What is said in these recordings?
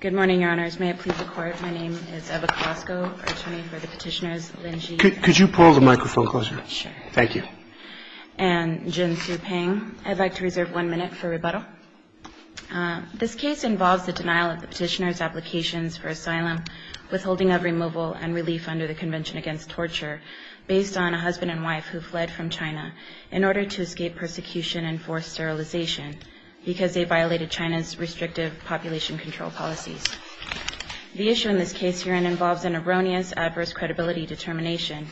Good morning, Your Honors. May it please the Court, my name is Eva Colasco, attorney for the petitioners Lin Xie and Jin Tzu-Pang. I'd like to reserve one minute for rebuttal. This case involves the denial of the petitioners' applications for asylum, withholding of removal and relief under the Convention Against Torture, based on a husband and wife who fled from China in order to escape persecution and forced sterilization because they violated China's restrictive population control policies. The issue in this case herein involves an erroneous, adverse credibility determination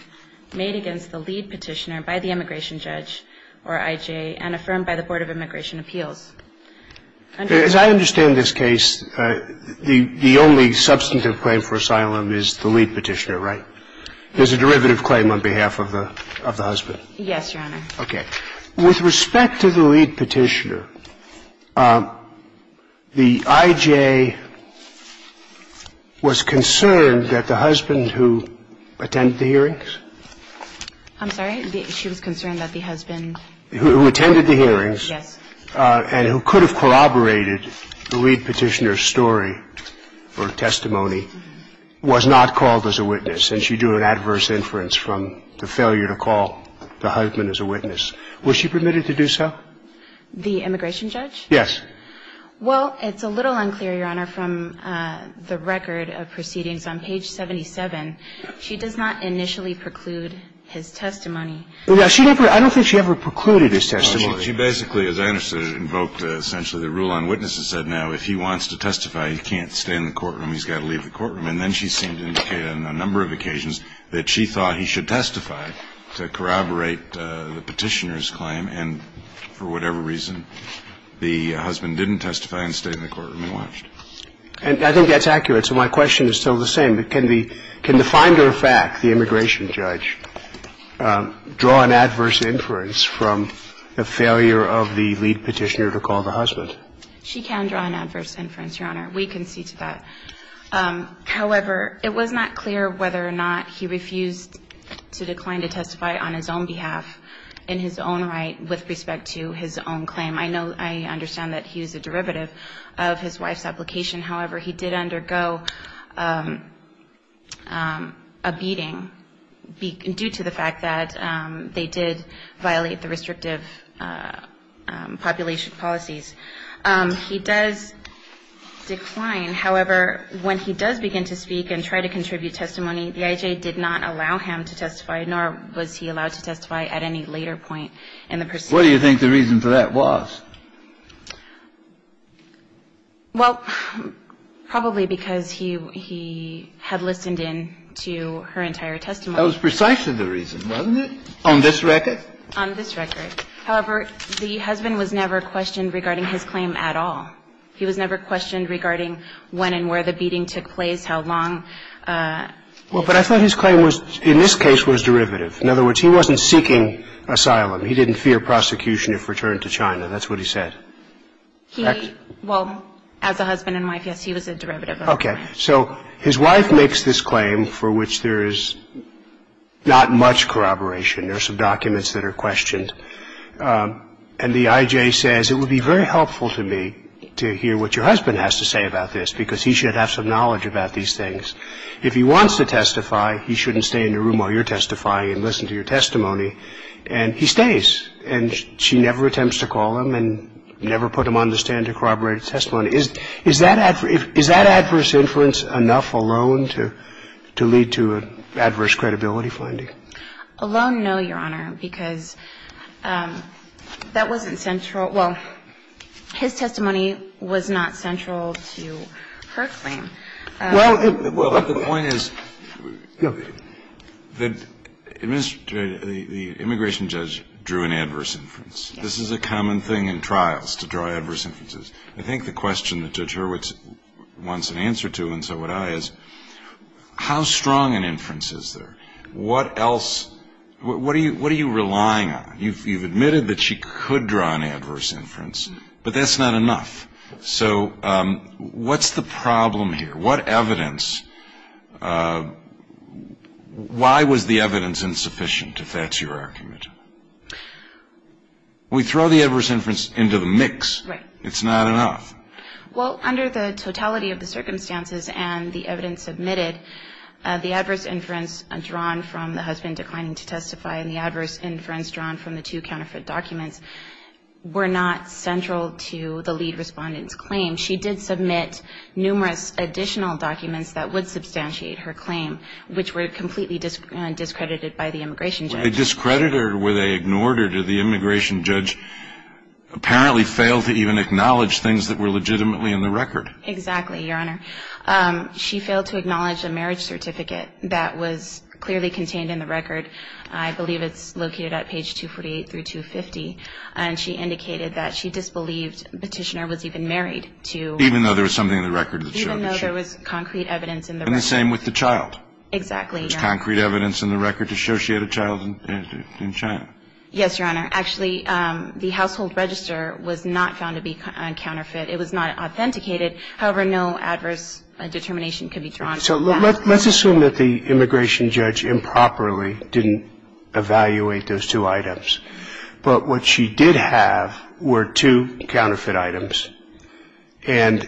made against the lead petitioner by the immigration judge, or IJ, and affirmed by the Board of Immigration Appeals. As I understand this case, the only substantive claim for asylum is the lead petitioner, right? There's a derivative claim on behalf of the husband? Yes, Your Honor. Okay. With respect to the lead petitioner, the IJ was concerned that the husband who attended the hearings? I'm sorry? She was concerned that the husband? Who attended the hearings. Yes. And who could have corroborated the lead petitioner's story or testimony was not called as a witness, and she drew an adverse inference from the failure to call the husband as a witness. Was she permitted to do so? The immigration judge? Yes. Well, it's a little unclear, Your Honor, from the record of proceedings on page 77. She does not initially preclude his testimony. I don't think she ever precluded his testimony. She basically, as I understood it, invoked essentially the rule on witnesses said now if he wants to testify, he can't stay in the courtroom, he's got to leave the courtroom. And then she seemed to indicate on a number of occasions that she thought he should testify to corroborate the petitioner's claim, and for whatever reason, the husband didn't testify and stayed in the courtroom and watched. And I think that's accurate. So my question is still the same. Can the finder of fact, the immigration judge, draw an adverse inference from the failure of the lead petitioner to call the husband? She can draw an adverse inference, Your Honor. We can see to that. However, it was not clear whether or not he refused to decline to testify on his own behalf, in his own right, with respect to his own claim. I know, I understand that he was a derivative of his wife's application. However, he did undergo a beating due to the fact that they did violate the restrictive population policies. He does decline. However, when he does begin to speak and try to contribute testimony, the IJ did not allow him to testify, nor was he allowed to testify at any later point in the proceedings. What do you think the reason for that was? Well, probably because he had listened in to her entire testimony. That was precisely the reason, wasn't it, on this record? On this record. However, the husband was never questioned regarding his claim at all. He was never questioned regarding when and where the beating took place, how long. Well, but I thought his claim was, in this case, was derivative. In other words, he wasn't seeking asylum. He didn't fear prosecution if returned to China. That's what he said. He, well, as a husband and wife, yes, he was a derivative of his wife. Okay. So his wife makes this claim for which there is not much corroboration. There are some documents that are questioned, and the IJ says, it would be very helpful to me to hear what your husband has to say about this because he should have some knowledge about these things. If he wants to testify, he shouldn't stay in the room while you're testifying and listen to your testimony. And he stays, and she never attempts to call him and never put him on the stand to corroborate his testimony. Is that adverse inference enough alone to lead to adverse credibility finding? Alone, no, Your Honor, because that wasn't central. Well, his testimony was not central to her claim. Well, the point is that the immigration judge drew an adverse inference. This is a common thing in trials, to draw adverse inferences. I think the question that Judge Hurwitz wants an answer to, and so would I, is how strong an inference is there? What else, what are you relying on? You've admitted that she could draw an adverse inference, but that's not enough. So what's the problem here? What evidence, why was the evidence insufficient, if that's your argument? We throw the adverse inference into the mix. Right. It's not enough. Well, under the totality of the circumstances and the evidence admitted, the adverse inference drawn from the husband declining to testify and the adverse inference drawn from the two counterfeit documents were not central to the lead respondent's claim. She did submit numerous additional documents that would substantiate her claim, which were completely discredited by the immigration judge. Were they discredited or were they ignored, or did the immigration judge apparently fail to even acknowledge things that were legitimately in the record? Exactly, Your Honor. She failed to acknowledge a marriage certificate that was clearly contained in the record. I believe it's located at page 248 through 250, and she indicated that she disbelieved Petitioner was even married to her. Even though there was something in the record that showed that she was. Even though there was concrete evidence in the record. And the same with the child. Exactly, Your Honor. There was concrete evidence in the record to show she had a child in China. Yes, Your Honor. Actually, the household register was not found to be a counterfeit. It was not authenticated. However, no adverse determination can be drawn from that. So let's assume that the immigration judge improperly didn't evaluate those two items, but what she did have were two counterfeit items and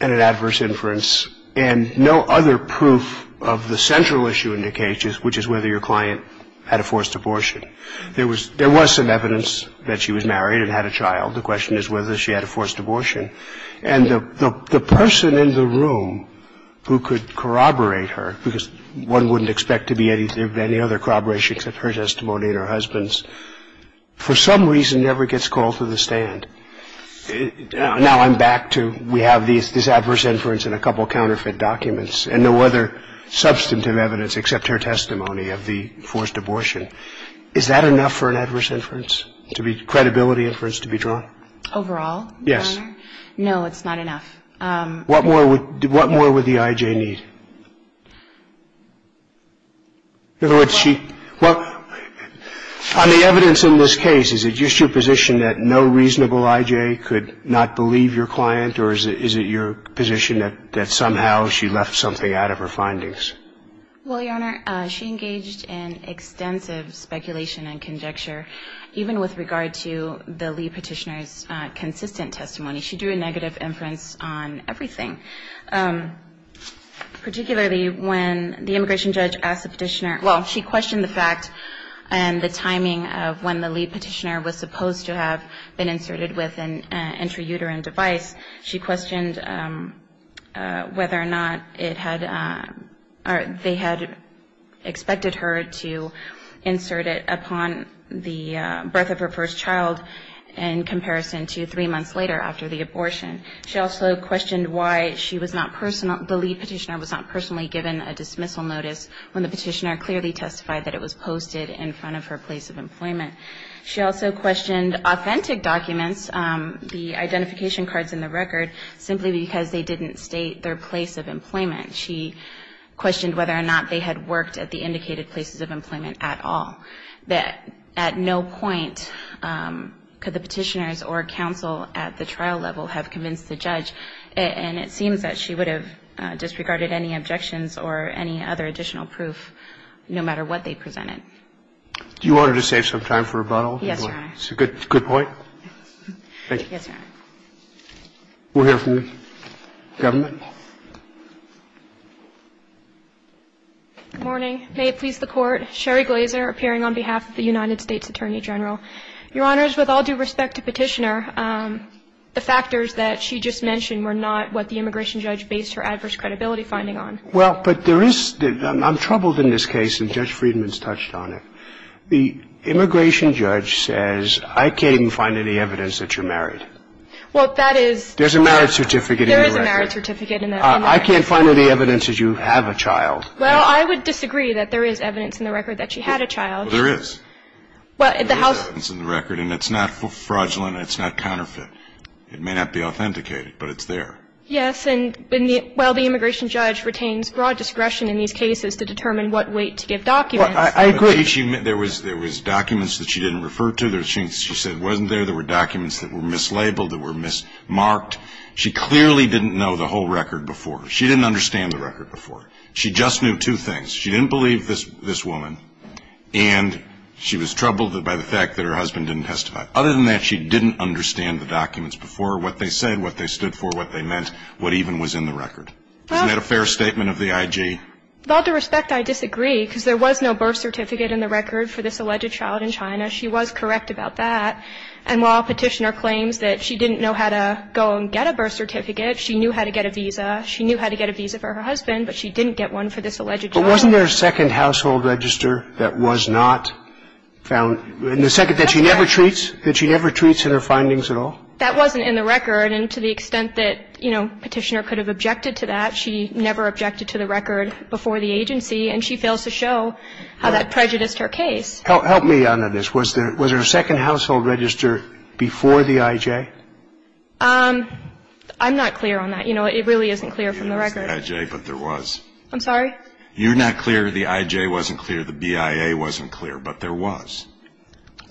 an adverse inference and no other proof of the central issue in the case, which is whether your client had a forced abortion. There was some evidence that she was married and had a child. The question is whether she had a forced abortion. And the person in the room who could corroborate her, because one wouldn't expect to be any other corroboration except her testimony and her husband's, for some reason never gets called to the stand. Now I'm back to we have this adverse inference and a couple of counterfeit documents and no other substantive evidence except her testimony of the forced abortion. Is that enough for an adverse inference to be credibility inference to be drawn? Overall, Your Honor? Yes. No, it's not enough. What more would the I.J. need? In other words, she – well, on the evidence in this case, is it just your position that no reasonable I.J. could not believe your client, or is it your position that somehow she left something out of her findings? Well, Your Honor, she engaged in extensive speculation and conjecture even with regard to the lead petitioner's consistent testimony. She drew a negative inference on everything, particularly when the immigration judge asked the petitioner – well, she questioned the fact and the timing of when the lead petitioner was supposed to have been inserted with an intrauterine device. She questioned whether or not it had – or they had expected her to insert it upon the child in comparison to three months later after the abortion. She also questioned why she was not – the lead petitioner was not personally given a dismissal notice when the petitioner clearly testified that it was posted in front of her place of employment. She also questioned authentic documents, the identification cards in the record, simply because they didn't state their place of employment. She questioned whether or not they had worked at the indicated places of employment at all, that at no point could the petitioners or counsel at the trial level have convinced the judge. And it seems that she would have disregarded any objections or any other additional proof, no matter what they presented. Do you want her to save some time for rebuttal? Yes, Your Honor. Good point. Thank you. Yes, Your Honor. We'll hear from the government. Good morning. May it please the Court. Sherry Glazer appearing on behalf of the United States Attorney General. Your Honors, with all due respect to Petitioner, the factors that she just mentioned were not what the immigration judge based her adverse credibility finding on. Well, but there is – I'm troubled in this case, and Judge Friedman's touched on it. The immigration judge says, I can't even find any evidence that you're married. Well, that is – There is a marriage certificate in the record. I can't find any evidence that you have a child. Well, I would disagree that there is evidence in the record that she had a child. Well, there is. Well, the House – There is evidence in the record, and it's not fraudulent, and it's not counterfeit. It may not be authenticated, but it's there. Yes, and while the immigration judge retains broad discretion in these cases to determine what weight to give documents – Well, I agree. There was documents that she didn't refer to. She said it wasn't there. There were documents that were mislabeled, that were mismarked. She clearly didn't know the whole record before. She didn't understand the record before. She just knew two things. She didn't believe this woman, and she was troubled by the fact that her husband didn't testify. Other than that, she didn't understand the documents before, what they said, what they stood for, what they meant, what even was in the record. Isn't that a fair statement of the IG? With all due respect, I disagree, because there was no birth certificate in the record for this alleged child in China. She was correct about that. And while Petitioner claims that she didn't know how to go and get a birth certificate, she knew how to get a visa. She knew how to get a visa for her husband, but she didn't get one for this alleged child. But wasn't there a second household register that was not found? In the second that she never treats? That she never treats in her findings at all? That wasn't in the record. And to the extent that, you know, Petitioner could have objected to that, she never objected to the record before the agency. And she fails to show how that prejudiced her case. Help me on this. Was there a second household register before the IG? I'm not clear on that. You know, it really isn't clear from the record. But there was. I'm sorry? You're not clear the IG wasn't clear, the BIA wasn't clear. But there was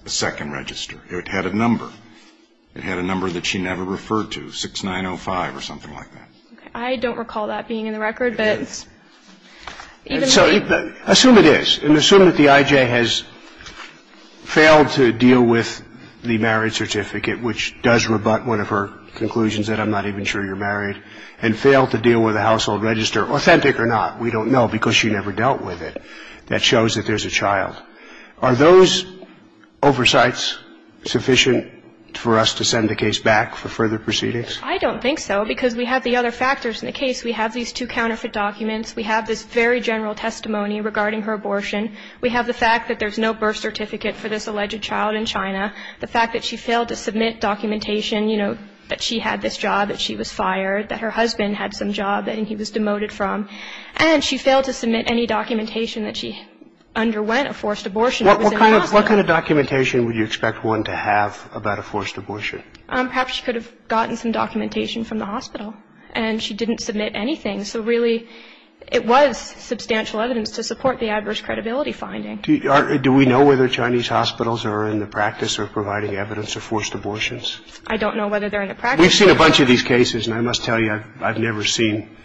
a second register. It had a number. It had a number that she never referred to, 6905 or something like that. I don't recall that being in the record. I don't recall it being in the record. But even though you could see it was in the records, I don't recall it being in the record. So, I assume it is. And assume that the IG has failed to deal with the marriage certificate, which does rebut one of her conclusions that I'm not even sure you're married, and failed to deal with a household register, authentic or not, we don't know, because she never dealt with it, that shows that there's a child. Are those oversights sufficient for us to send the case back for further proceedings? I don't think so, because we have the other factors in the case. We have these two counterfeit documents. We have this very general testimony regarding her abortion. We have the fact that there's no birth certificate for this alleged child in China, the fact that she failed to submit documentation, you know, that she had this job, that she was fired, that her husband had some job that he was demoted from, and she failed to submit any documentation that she underwent a forced abortion. What kind of documentation would you expect one to have about a forced abortion? Perhaps she could have gotten some documentation from the hospital, and she didn't submit anything. So, really, it was substantial evidence to support the adverse credibility finding. Do we know whether Chinese hospitals are in the practice of providing evidence of forced abortions? I don't know whether they're in the practice. We've seen a bunch of these cases, and I must tell you, I've never seen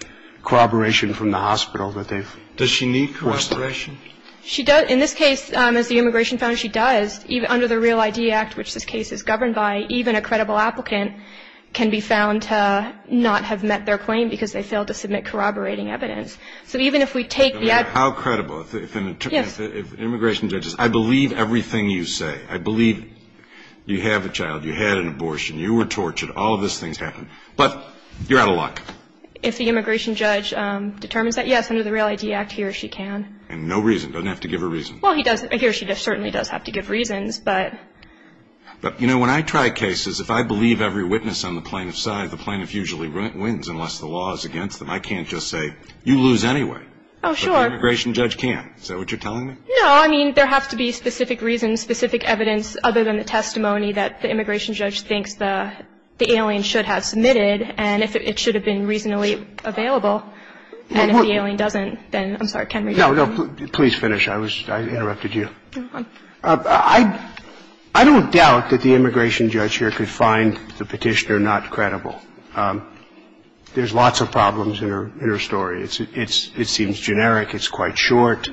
corroboration from the hospital that they've forced abortion. Does she need corroboration? She does. In this case, as the immigration found, she does. Under the Real ID Act, which this case is governed by, even a credible applicant can be found to not have met their claim because they failed to submit corroborating evidence. So even if we take the evidence. How credible? Immigration judges, I believe everything you say. I believe you have a child. You had an abortion. You were tortured. All of those things happen. But you're out of luck. If the immigration judge determines that, yes, under the Real ID Act, he or she can. And no reason? Doesn't have to give a reason? Well, he or she certainly does have to give reasons, but. But, you know, when I try cases, if I believe every witness on the plaintiff's side, the plaintiff usually wins unless the law is against them. I can't just say, you lose anyway. Oh, sure. But the immigration judge can. Is that what you're telling me? No, I mean, there has to be specific reasons, specific evidence, other than the testimony that the immigration judge thinks the alien should have submitted and if it should have been reasonably available. And if the alien doesn't, then I'm sorry. No, no. Please finish. I interrupted you. I don't doubt that the immigration judge here could find the petitioner not credible. There's lots of problems in her story. It seems generic. It's quite short.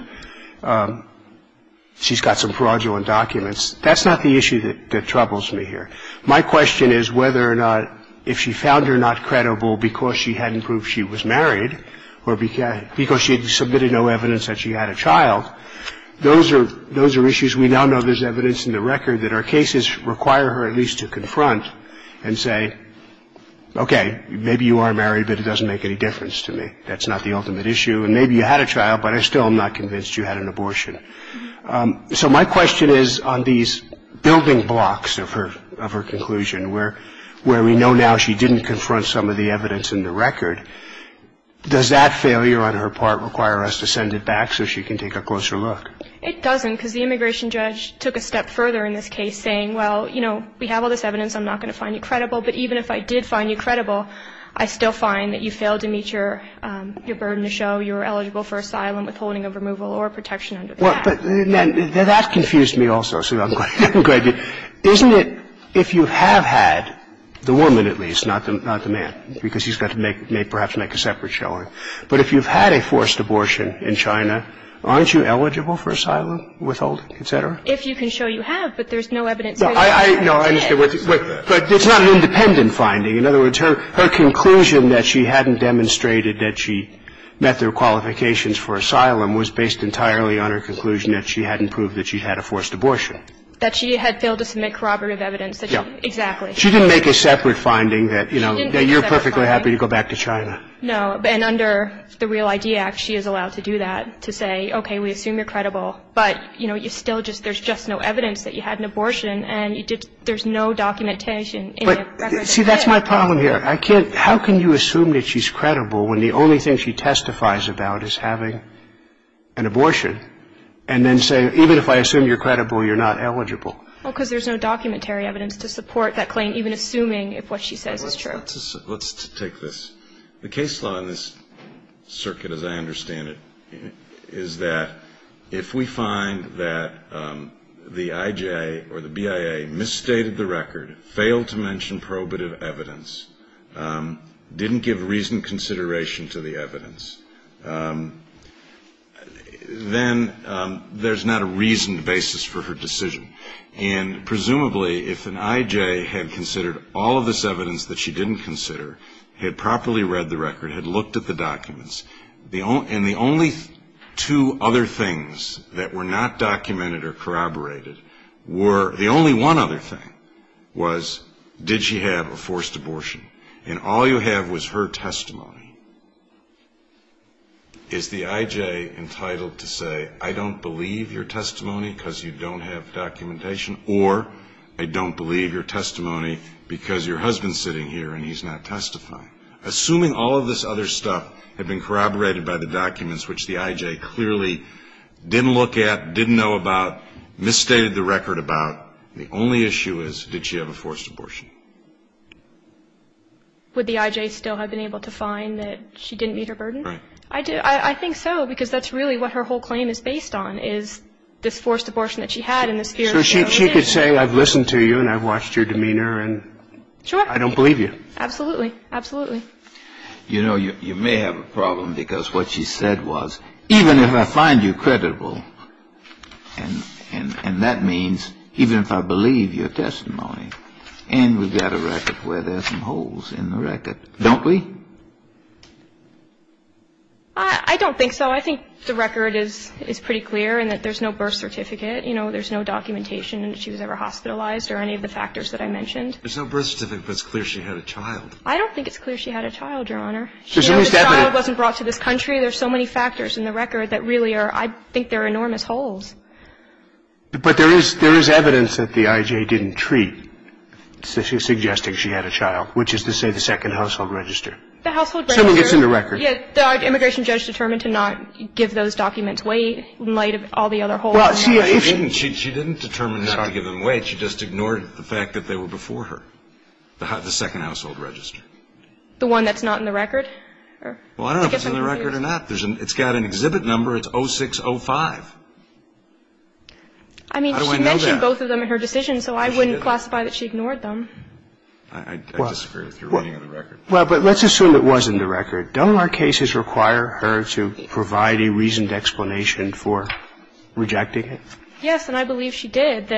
She's got some fraudulent documents. That's not the issue that troubles me here. My question is whether or not if she found her not credible because she hadn't proved she was married or because she had submitted no evidence that she had a child, those are issues. We now know there's evidence in the record that our cases require her at least to confront and say, okay, maybe you are married, but it doesn't make any difference to me. That's not the ultimate issue. And maybe you had a child, but I still am not convinced you had an abortion. So my question is on these building blocks of her conclusion, where we know now she didn't confront some of the evidence in the record, does that failure on her part require us to send it back so she can take a closer look? It doesn't because the immigration judge took a step further in this case saying, well, you know, we have all this evidence. I'm not going to find you credible. But even if I did find you credible, I still find that you failed to meet your burden to show you were eligible for asylum, withholding of removal, or protection under the Act. But that confused me also, so I'm going to go ahead. Isn't it if you have had the woman at least, not the man, because he's got to make perhaps make a separate showing, but if you've had a forced abortion in China, aren't you eligible for asylum, withholding, et cetera? If you can show you have, but there's no evidence. No, I understand. But it's not an independent finding. In other words, her conclusion that she hadn't demonstrated that she met their qualifications for asylum was based entirely on her conclusion that she hadn't proved that she had a forced abortion. That she had failed to submit corroborative evidence. Yeah. Exactly. She didn't make a separate finding that, you know, that you're perfectly happy to go back to China. No. And under the Real ID Act, she is allowed to do that, to say, okay, we assume you're credible. But, you know, you still just, there's just no evidence that you had an abortion, and there's no documentation in the record. See, that's my problem here. I can't, how can you assume that she's credible when the only thing she testifies about is having an abortion, and then say, even if I assume you're credible, you're not eligible? Well, because there's no documentary evidence to support that claim, even assuming if what she says is true. Let's take this. The case law in this circuit, as I understand it, is that if we find that the IJA or the BIA misstated the record, failed to mention probative evidence, didn't give reasoned consideration to the evidence, then there's not a reasoned basis for her decision. And presumably, if an IJA had considered all of this evidence that she didn't consider, had properly read the record, had looked at the documents, and the only two other things that were not documented or corroborated were, the only one other thing was, did she have a forced abortion? And all you have was her testimony. Is the IJA entitled to say, I don't believe your testimony because you don't have documentation, or I don't believe your testimony because your husband's sitting here and he's not testifying? Assuming all of this other stuff had been corroborated by the documents, which the IJA clearly didn't look at, didn't know about, misstated the record about, the only issue is, did she have a forced abortion? Would the IJA still have been able to find that she didn't meet her burden? Right. I do. I think so, because that's really what her whole claim is based on, is this forced abortion that she had and this fear that she had. So she could say, I've listened to you and I've watched your demeanor and I don't believe you. Sure. Absolutely. Absolutely. You know, you may have a problem because what she said was, even if I find you credible, and that means even if I believe your testimony, and we've got a record where there's some holes in the record, don't we? I don't think so. I think the record is pretty clear in that there's no birth certificate, you know, there's no documentation that she was ever hospitalized or any of the factors that I mentioned. There's no birth certificate, but it's clear she had a child. I don't think it's clear she had a child, Your Honor. The child wasn't brought to this country. There's so many factors in the record that really are, I think they're enormous holes. But there is evidence that the IJA didn't treat, suggesting she had a child, which is to say the second household register. The household register. Something gets in the record. Yes. The immigration judge determined to not give those documents away in light of all the other holes in the record. She didn't. She didn't determine not to give them away. She just ignored it. She didn't. She didn't. She just ignored the fact that they were before her, the second household register. The one that's not in the record? Well, I don't know if it's in the record or not. It's got an exhibit number. It's 0605. How do I know that? I mean, she mentioned both of them in her decision, so I wouldn't classify that she ignored them. I disagree with your reading of the record. Well, but let's assume it was in the record. Don't our cases require her to provide a reasoned explanation for rejecting it? Yes, and I believe she did.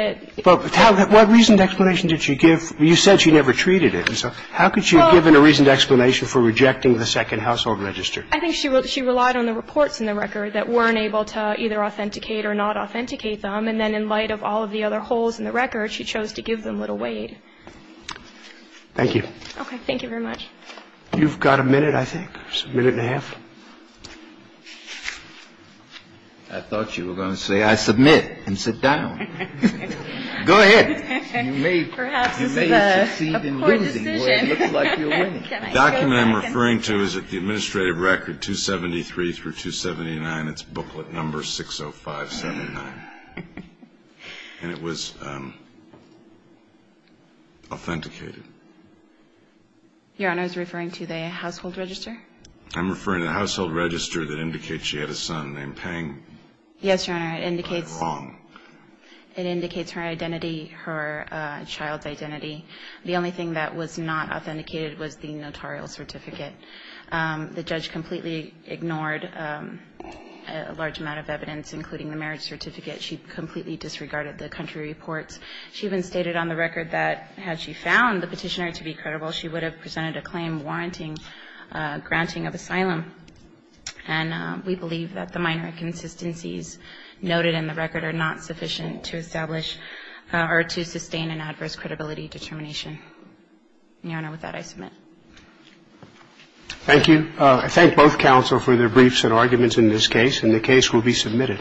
But what reasoned explanation did she give? You said she never treated it. So how could she have given a reasoned explanation for rejecting the second household register? I think she relied on the reports in the record that weren't able to either authenticate or not authenticate them. And then in light of all of the other holes in the record, she chose to give them little weight. Thank you. Okay. Thank you very much. You've got a minute, I think, a minute and a half. I thought you were going to say I submit and sit down. Go ahead. Perhaps this is a poor decision. The document I'm referring to is at the administrative record 273 through 279. It's booklet number 60579. And it was authenticated. Your Honor, are you referring to the household register? I'm referring to the household register that indicates she had a son named Peng. Yes, Your Honor, it indicates. Am I wrong? It indicates her identity, her child's identity. The only thing that was not authenticated was the notarial certificate. The judge completely ignored a large amount of evidence, including the marriage certificate She completely disregarded the country reports. She even stated on the record that had she found the petitioner to be credible, she would have presented a claim warranting granting of asylum. And we believe that the minor inconsistencies noted in the record are not sufficient to establish or to sustain an adverse credibility determination. Your Honor, with that, I submit. Thank you. I thank both counsel for their briefs and arguments in this case. And the case will be submitted.